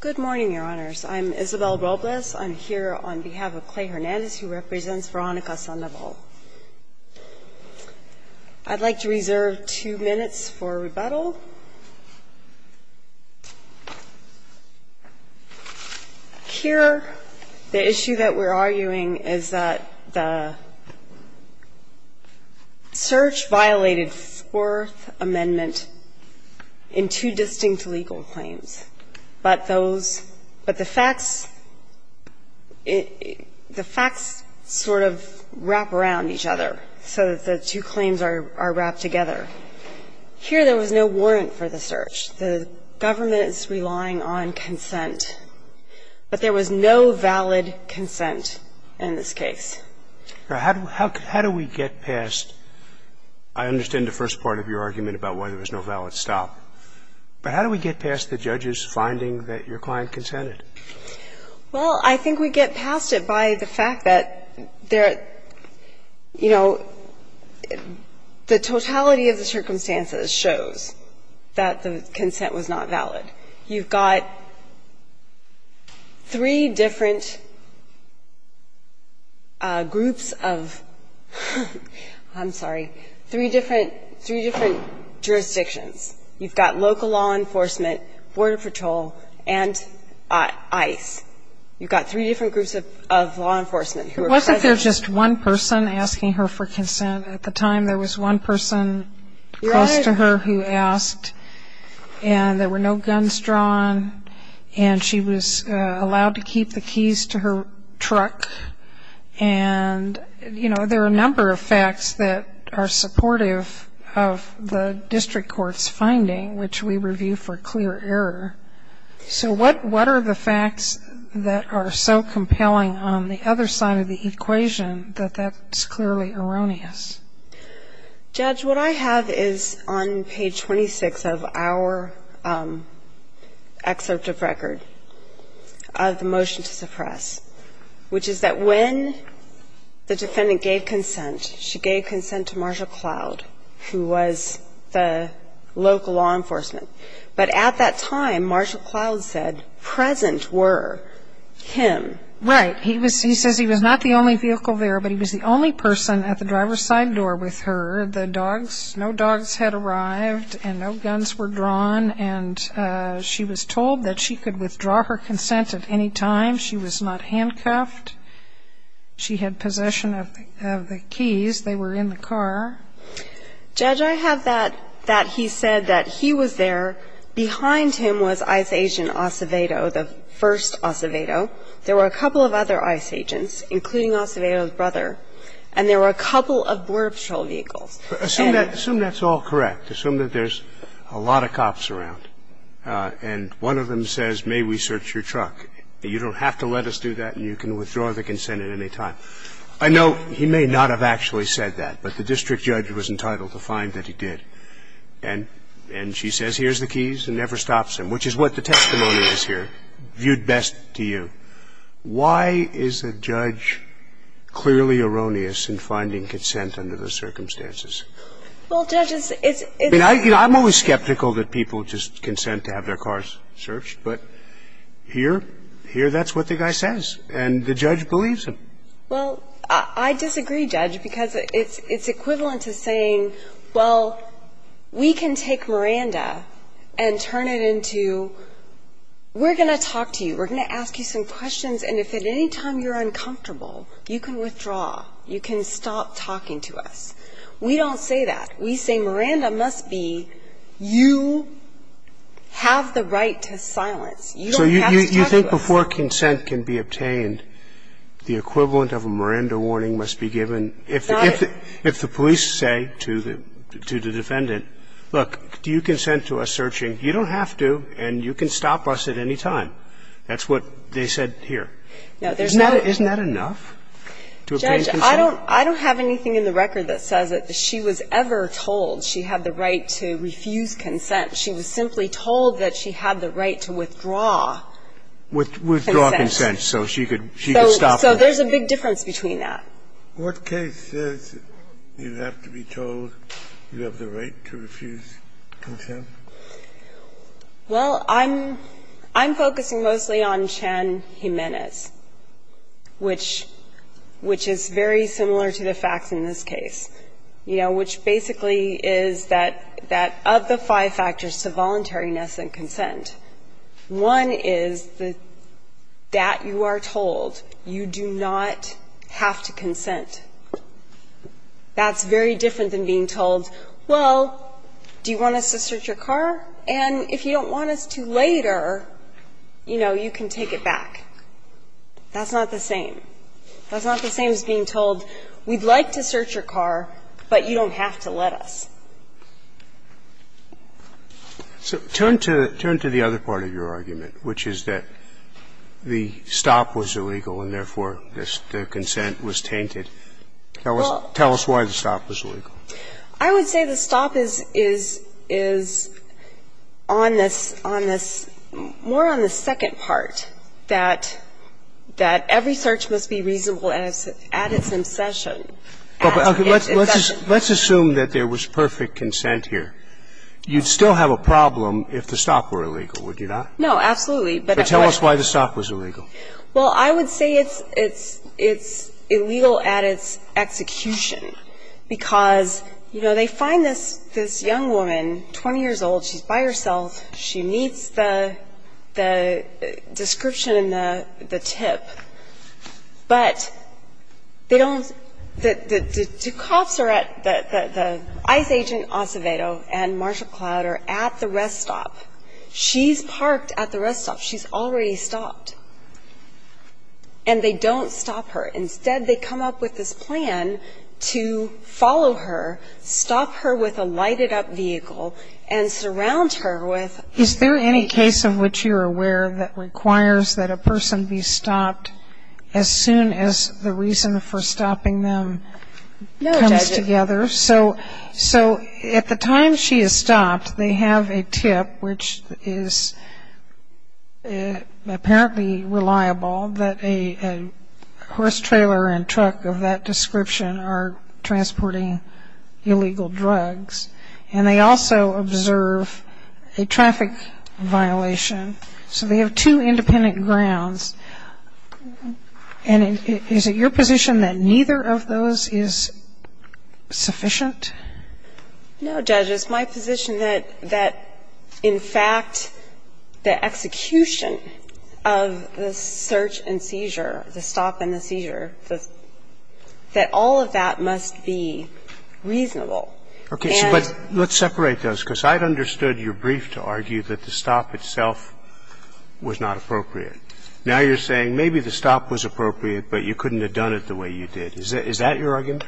Good morning, your honors. I'm Isabel Robles. I'm here on behalf of Clay Hernandez, who represents Veronica Sandoval. I'd like to reserve two minutes for rebuttal. Here, the issue that we're arguing is that the search violated Fourth Amendment in two distinct legal claims. But those – but the facts – the facts sort of wrap around each other so that the two claims are wrapped together. Here, there was no warrant for the search. The government is relying on consent. But there was no valid consent in this case. Now, how do we get past – I understand the first part of your argument about why there was no valid stop. But how do we get past the judges finding that your client consented? Well, I think we get past it by the fact that there – you know, the totality of the circumstances shows that the consent was not valid. You've got three different groups of – I'm sorry – three different – three different jurisdictions. You've got local law enforcement, border patrol, and ICE. You've got three different groups of law enforcement who are present. It wasn't just one person asking her for consent. At the time, there was one person close to her who asked. And there were no guns drawn. And, you know, there are a number of facts that are supportive of the district court's finding, which we review for clear error. So what are the facts that are so compelling on the other side of the equation that that's clearly erroneous? Judge, what I have is on page 26 of our excerpt of record of the motion to suppress, which is that when the defendant gave consent, she gave consent to Marshall Cloud, who was the local law enforcement. But at that time, Marshall Cloud said present were him. Right. He says he was not the only vehicle there, but he was the only person at the driver's side door with her. The dogs – no dogs had arrived and no guns were drawn. And she was told that she could withdraw her consent at any time. She was not handcuffed. She had possession of the keys. They were in the car. Judge, I have that he said that he was there. Behind him was ICE agent Acevedo, the first Acevedo. There were a couple of other ICE agents, including Acevedo's brother. And there were a couple of border patrol vehicles. Assume that's all correct. Assume that there's a lot of cops around. And one of them says, may we search your truck? You don't have to let us do that and you can withdraw the consent at any time. I know he may not have actually said that, but the district judge was entitled to find that he did. And she says here's the keys and never stops him, which is what the testimony is here, viewed best to you. Why is a judge clearly erroneous in finding consent under those circumstances? Well, Judge, it's – I mean, I'm always skeptical that people just consent to have their cars searched. But here, here that's what the guy says. And the judge believes him. Well, I disagree, Judge, because it's equivalent to saying, well, we can take Miranda and turn it into we're going to talk to you. We're going to ask you some questions. And if at any time you're uncomfortable, you can withdraw. You can stop talking to us. We don't say that. We say Miranda must be – you have the right to silence. You don't have to talk to us. So you think before consent can be obtained, the equivalent of a Miranda warning must be given if the police say to the defendant, look, do you consent to us searching? You don't have to and you can stop us at any time. That's what they said here. Isn't that enough to obtain consent? I don't have anything in the record that says that she was ever told she had the right to refuse consent. She was simply told that she had the right to withdraw consent. Withdraw consent so she could stop them. So there's a big difference between that. What case says you have to be told you have the right to refuse consent? Well, I'm focusing mostly on Chan-Jimenez, which is very similar to the facts in this case, you know, which basically is that of the five factors to voluntariness and consent, one is that you are told you do not have to consent. That's very different than being told, well, do you want us to search your car? And if you don't want us to later, you know, you can take it back. That's not the same. That's not the same as being told we'd like to search your car, but you don't have to let us. So turn to the other part of your argument, which is that the stop was illegal and therefore the consent was tainted. Tell us why the stop was illegal. I would say the stop is on this, more on the second part, that every search must be reasonable at its incession. Let's assume that there was perfect consent here. You'd still have a problem if the stop were illegal, would you not? No, absolutely. But tell us why the stop was illegal. Well, I would say it's illegal at its execution because, you know, they find this young woman, 20 years old, she's by herself. She meets the description in the tip. But they don't, the cops are at, the ICE agent Acevedo and Marcia Cloud are at the rest stop. She's parked at the rest stop. She's already stopped. And they don't stop her. Instead, they come up with this plan to follow her, stop her with a lighted-up vehicle and surround her with. Is there any case of which you're aware that requires that a person be stopped as soon as the reason for stopping them comes together? No, Judge. So at the time she is stopped, they have a tip, which is apparently reliable, that a horse trailer and truck of that description are transporting illegal drugs. And they also observe a traffic violation. So they have two independent grounds. And is it your position that neither of those is sufficient? No, Judge. It's my position that, in fact, the execution of the search and seizure, the stop and the seizure, that all of that must be reasonable. Okay. But let's separate those, because I'd understood your brief to argue that the stop itself was not appropriate. Now you're saying maybe the stop was appropriate, but you couldn't have done it the way you did. Is that your argument?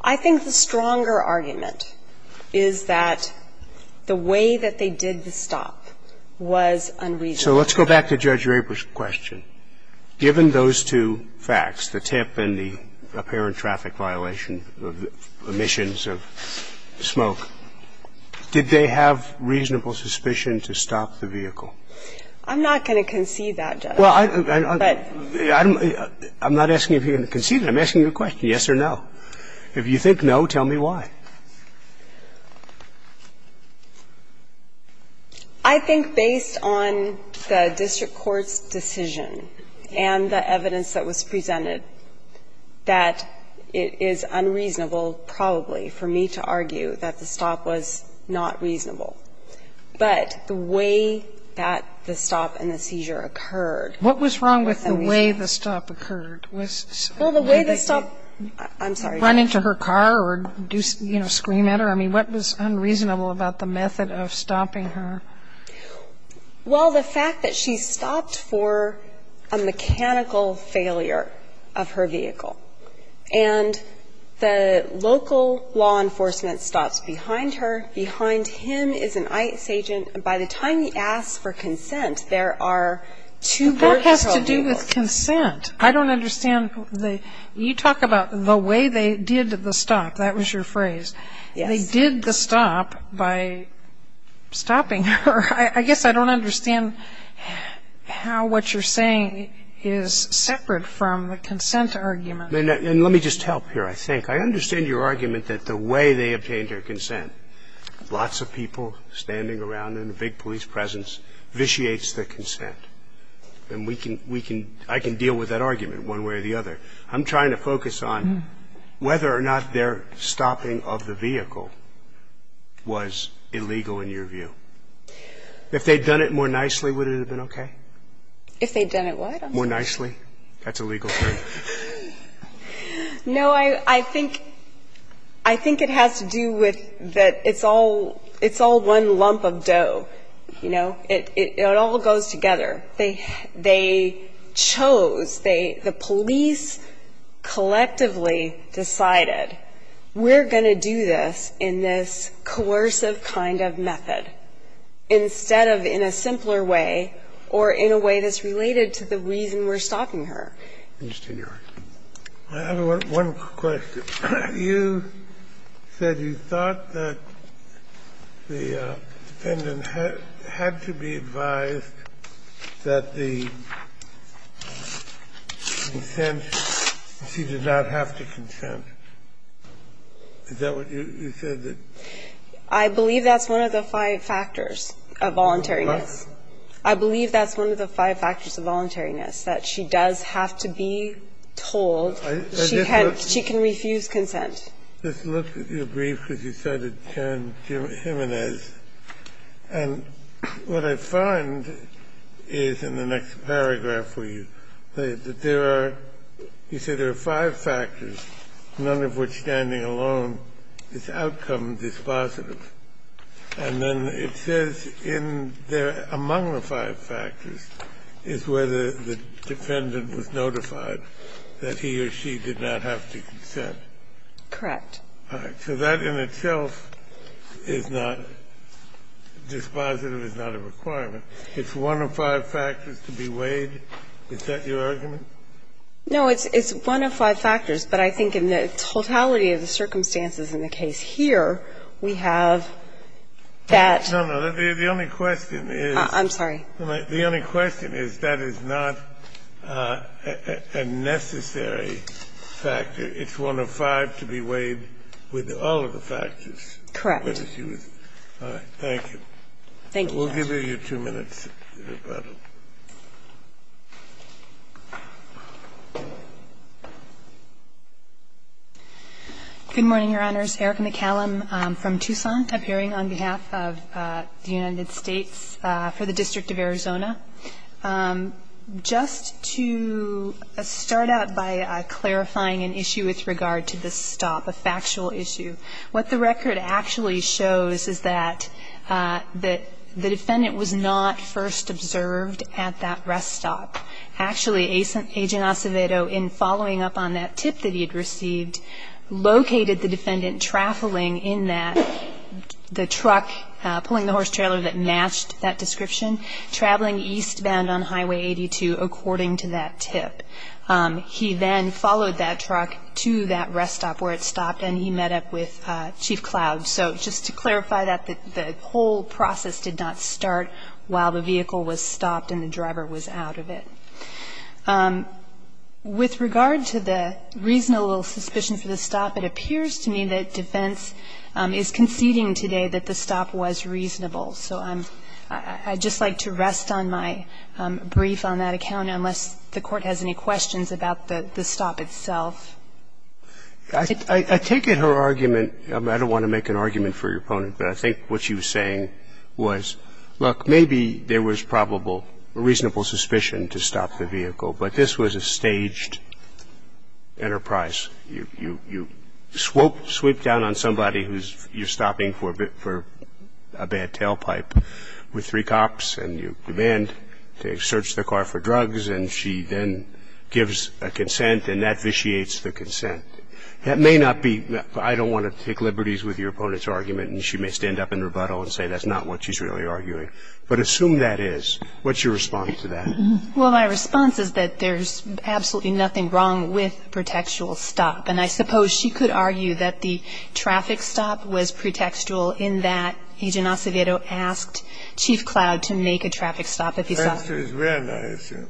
I think the stronger argument is that the way that they did the stop was unreasonable. So let's go back to Judge Raper's question. Given those two facts, the tip and the apparent traffic violation, the emissions of smoke, did they have reasonable suspicion to stop the vehicle? I'm not going to concede that, Judge. Well, I'm not asking if you're going to concede it. I'm asking you a question, yes or no. If you think no, tell me why. I think based on the district court's decision and the evidence that was presented, that it is unreasonable, probably, for me to argue that the stop was not reasonable. But the way that the stop and the seizure occurred was unreasonable. What was wrong with the way the stop occurred? Well, the way the stop was unreasonable. I'm sorry. Did they run into her car or, you know, scream at her? I mean, what was unreasonable about the method of stopping her? Well, the fact that she stopped for a mechanical failure of her vehicle, and the local law enforcement stops behind her, behind him is an ICE agent. By the time he asks for consent, there are two vehicles. That has to do with consent. I don't understand the – you talk about the way they did the stop. That was your phrase. Yes. They did the stop by stopping her. I guess I don't understand how what you're saying is separate from the consent argument. And let me just help here, I think. I understand your argument that the way they obtained her consent, lots of people standing around in a big police presence, vitiates the consent. And we can – I can deal with that argument one way or the other. I'm trying to focus on whether or not their stopping of the vehicle was illegal, in your view. If they'd done it more nicely, would it have been okay? If they'd done it what? More nicely. That's a legal thing. No, I think – I think it has to do with that it's all – it's all one lump of dough, you know. It all goes together. They chose, they – the police collectively decided, we're going to do this in this coercive kind of method, instead of in a simpler way or in a way that's related to the reason we're stopping her. I understand your argument. I have one question. You said you thought that the defendant had to be advised that the consent, she did not have to consent. Is that what you said? I believe that's one of the five factors of voluntariness. What? I believe that's one of the five factors of voluntariness, that she does have to be told she can't – she can refuse consent. I just looked at your brief because you cited Karen Jimenez. And what I find is in the next paragraph where you say that there are – you say there are five factors, none of which standing alone is outcome dispositive. And then it says in the – among the five factors is where the defendant was notified that he or she did not have to consent. Correct. All right. So that in itself is not – dispositive is not a requirement. It's one of five factors to be weighed. Is that your argument? No, it's one of five factors. But I think in the totality of the circumstances in the case here, we have that – No, no. The only question is – I'm sorry. The only question is that is not a necessary factor. It's one of five to be weighed with all of the factors. Correct. All right. Thank you, Your Honor. We'll give you two minutes to rebuttal. Good morning, Your Honors. Erica McCallum from Tucson, appearing on behalf of the United States for the District of Arizona. Just to start out by clarifying an issue with regard to the stop, a factual issue, what the record actually shows is that the defendant was not first observed at that rest stop. Actually, Agent Acevedo, in following up on that tip that he had received, located the defendant traveling in that – the truck pulling the horse trailer that matched that description, traveling eastbound on Highway 82 according to that tip. He then followed that truck to that rest stop where it stopped, and he met up with Chief Cloud. So just to clarify that, the whole process did not start while the vehicle was stopped and the driver was out of it. With regard to the reasonable suspicion for the stop, it appears to me that defense is conceding today that the stop was reasonable. So I'm – I'd just like to rest on my brief on that account unless the Court has any questions about the stop itself. I take it her argument – I don't want to make an argument for your opponent, but I think what she was saying was, look, maybe there was probable – reasonable suspicion to stop the vehicle, but this was a staged enterprise. You – you swoop down on somebody who's – you're stopping for a bad tailpipe with three cops, and you demand to search the car for drugs, and she then gives a consent, and that vitiates the consent. That may not be – I don't want to take liberties with your opponent's argument, and she may stand up in rebuttal and say that's not what she's really arguing. But assume that is. What's your response to that? Well, my response is that there's absolutely nothing wrong with pretextual stop, and I suppose she could argue that the traffic stop was pretextual in that Agent Acevedo asked Chief Cloud to make a traffic stop if he saw it. Your answer is when, I assume?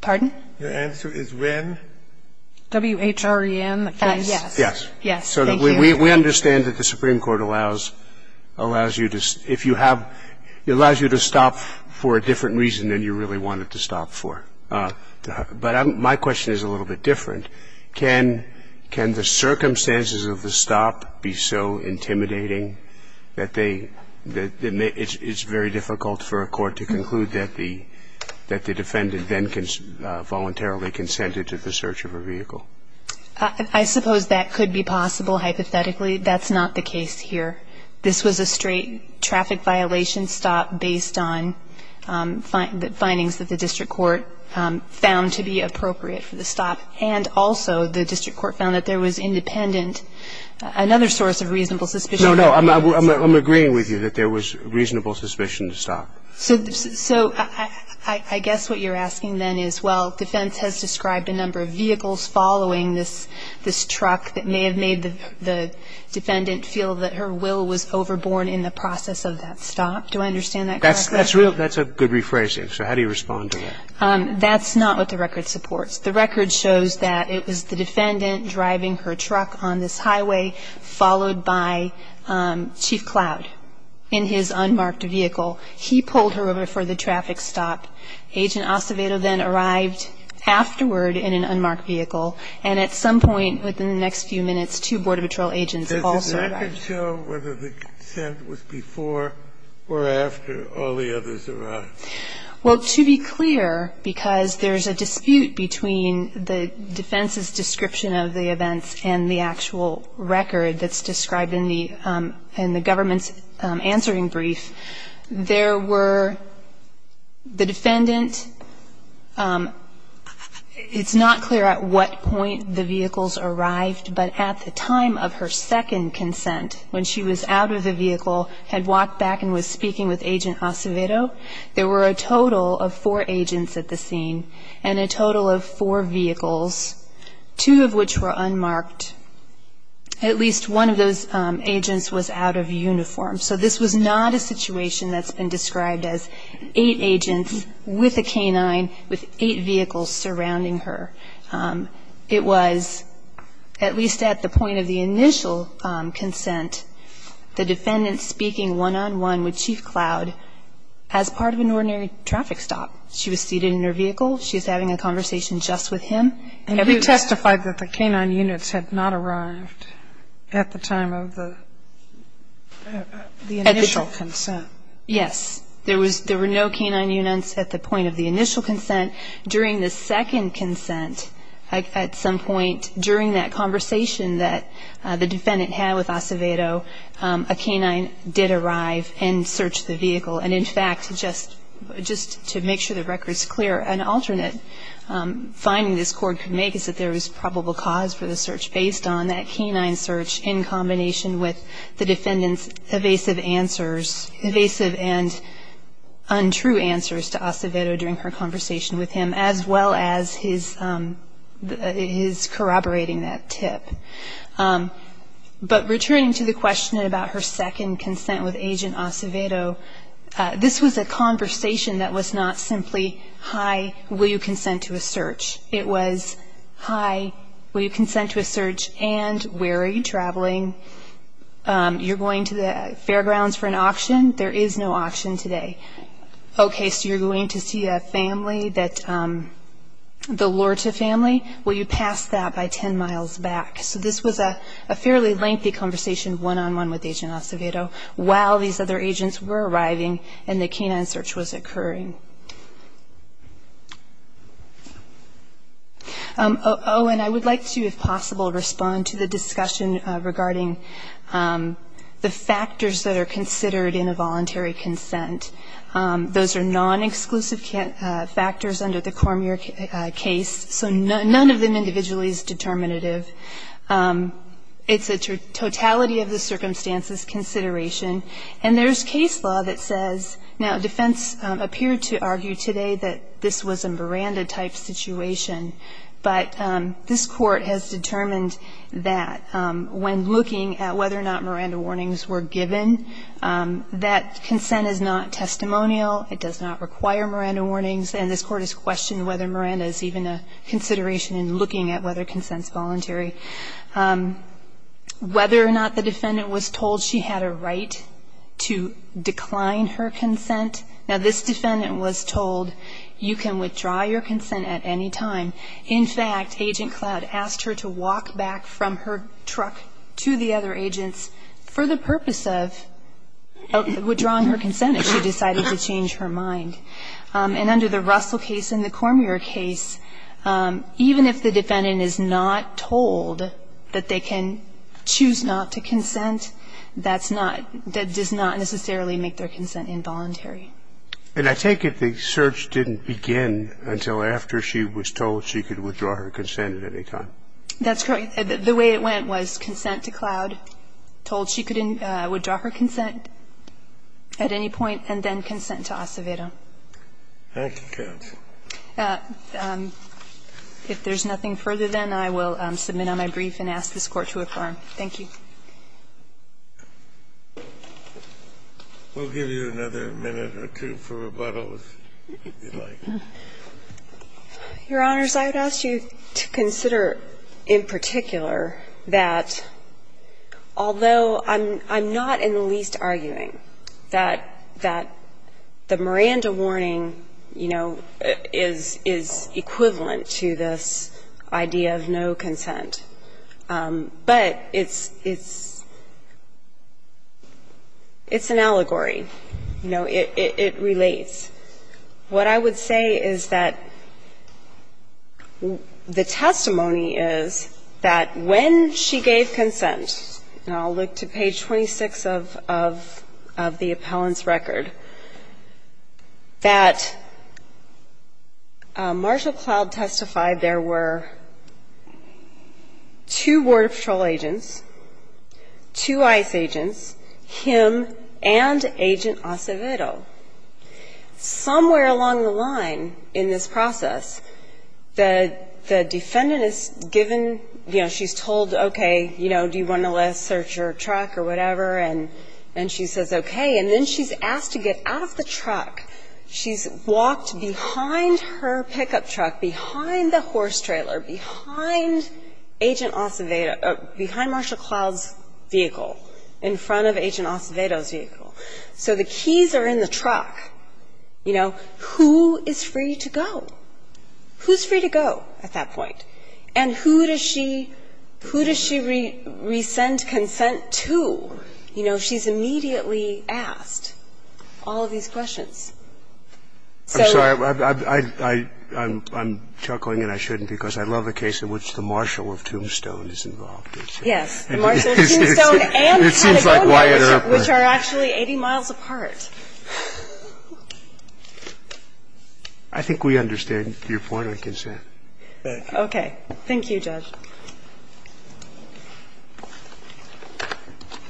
Pardon? Your answer is when? WHREN, the case? Yes. Yes. Yes. Thank you. We understand that the Supreme Court allows – allows you to – if you have – it allows you to make a traffic stop if you want to. But I'm – my question is a little bit different. Can – can the circumstances of the stop be so intimidating that they – that it's very difficult for a court to conclude that the – that the defendant then voluntarily consented to the search of a vehicle? I suppose that could be possible, hypothetically. That's not the case here. Well, I guess what you're asking then is, well, defense has described a number of vehicles following this – this truck that may have made the defendant feel that her will to not sufficient. That's a good rephrasing. So how do you respond to that? That's not what the record supports. The record shows that it was the defendant driving her truck on this highway followed by Chief Cloud in his unmarked vehicle. He pulled her over for the traffic stop. Agent Acevedo then arrived afterward in an unmarked vehicle. And at some point within the next few minutes, two Border Patrol agents also arrived. Can you show whether the consent was before or after all the others arrived? Well, to be clear, because there's a dispute between the defense's description of the events and the actual record that's described in the – in the government's answering brief, there were the defendant – it's not clear at what point the vehicles arrived, but at the time of her second consent, when she was out of the vehicle, had walked back and was speaking with Agent Acevedo, there were a total of four agents at the scene and a total of four vehicles, two of which were unmarked. At least one of those agents was out of uniform. So this was not a situation that's been described as eight agents with a canine, with eight vehicles surrounding her. It was at least at the point of the initial consent, the defendant speaking one-on-one with Chief Cloud as part of an ordinary traffic stop. She was seated in her vehicle. She was having a conversation just with him. And you testified that the canine units had not arrived at the time of the initial consent. Yes. There were no canine units at the point of the initial consent. During the second consent, at some point during that conversation that the defendant had with Acevedo, a canine did arrive and search the vehicle. And, in fact, just to make sure the record's clear, an alternate finding this court could make is that there was probable cause for the search based on that canine search in combination with the defendant's evasive answers, evasive and untrue answers to Acevedo during her conversation with him, as well as his corroborating that tip. But returning to the question about her second consent with Agent Acevedo, this was a conversation that was not simply, hi, will you consent to a search? It was, hi, will you consent to a search, and where are you traveling? You're going to the fairgrounds for an auction? There is no auction today. Okay, so you're going to see a family that the Lorta family? Will you pass that by 10 miles back? So this was a fairly lengthy conversation one-on-one with Agent Acevedo while these other agents were arriving and the canine search was occurring. Oh, and I would like to, if possible, respond to the discussion regarding the factors that are considered in a voluntary consent. Those are non-exclusive factors under the Cormier case, so none of them individually is determinative. It's a totality of the circumstances consideration. And there's case law that says, now, defense appeared to be in favor to argue today that this was a Miranda-type situation, but this Court has determined that when looking at whether or not Miranda warnings were given, that consent is not testimonial, it does not require Miranda warnings, and this Court has questioned whether Miranda is even a consideration in looking at whether consent is voluntary. Whether or not the defendant was told she had a right to decline her consent, now, this defendant was told you can withdraw your consent at any time. In fact, Agent Cloud asked her to walk back from her truck to the other agents for the purpose of withdrawing her consent if she decided to change her mind. And under the Russell case and the Cormier case, even if the defendant is not told that they can choose not to consent, that's not – that does not necessarily make their consent involuntary. And I take it the search didn't begin until after she was told she could withdraw her consent at any time. That's correct. The way it went was consent to Cloud, told she could withdraw her consent at any point, and then consent to Acevedo. Thank you, counsel. If there's nothing further, then I will submit on my brief and ask this Court to affirm. Thank you. We'll give you another minute or two for rebuttals, if you'd like. Your Honors, I would ask you to consider in particular that, although I'm not in the least arguing that the Miranda warning, you know, is equivalent to this idea of no consent, but it's – it's an allegory. You know, it relates. What I would say is that the testimony is that when she gave consent, and I'll look to page 26 of the appellant's record, that Marshall Cloud testified there were two Border Patrol agents, two ICE agents, him and Agent Acevedo. Somewhere along the line in this process, the defendant is given, you know, she's told, okay, you know, do you want to let us search your truck or whatever, and she says okay. And then she's asked to get out of the truck. She's walked behind her pickup truck, behind the horse trailer, behind Agent Acevedo – behind Marshall Cloud's vehicle, in front of Agent Acevedo's vehicle. So the keys are in the truck. You know, who is free to go? Who's free to go at that point? And who does she – who does she resend consent to? You know, she's immediately asked all of these questions. So – I'm sorry. I'm chuckling, and I shouldn't, because I love a case in which the marshal of Tombstone is involved. Yes. The marshal of Tombstone and Patagonia, which are actually 80 miles apart. Okay. Thank you, Judge. Thank you.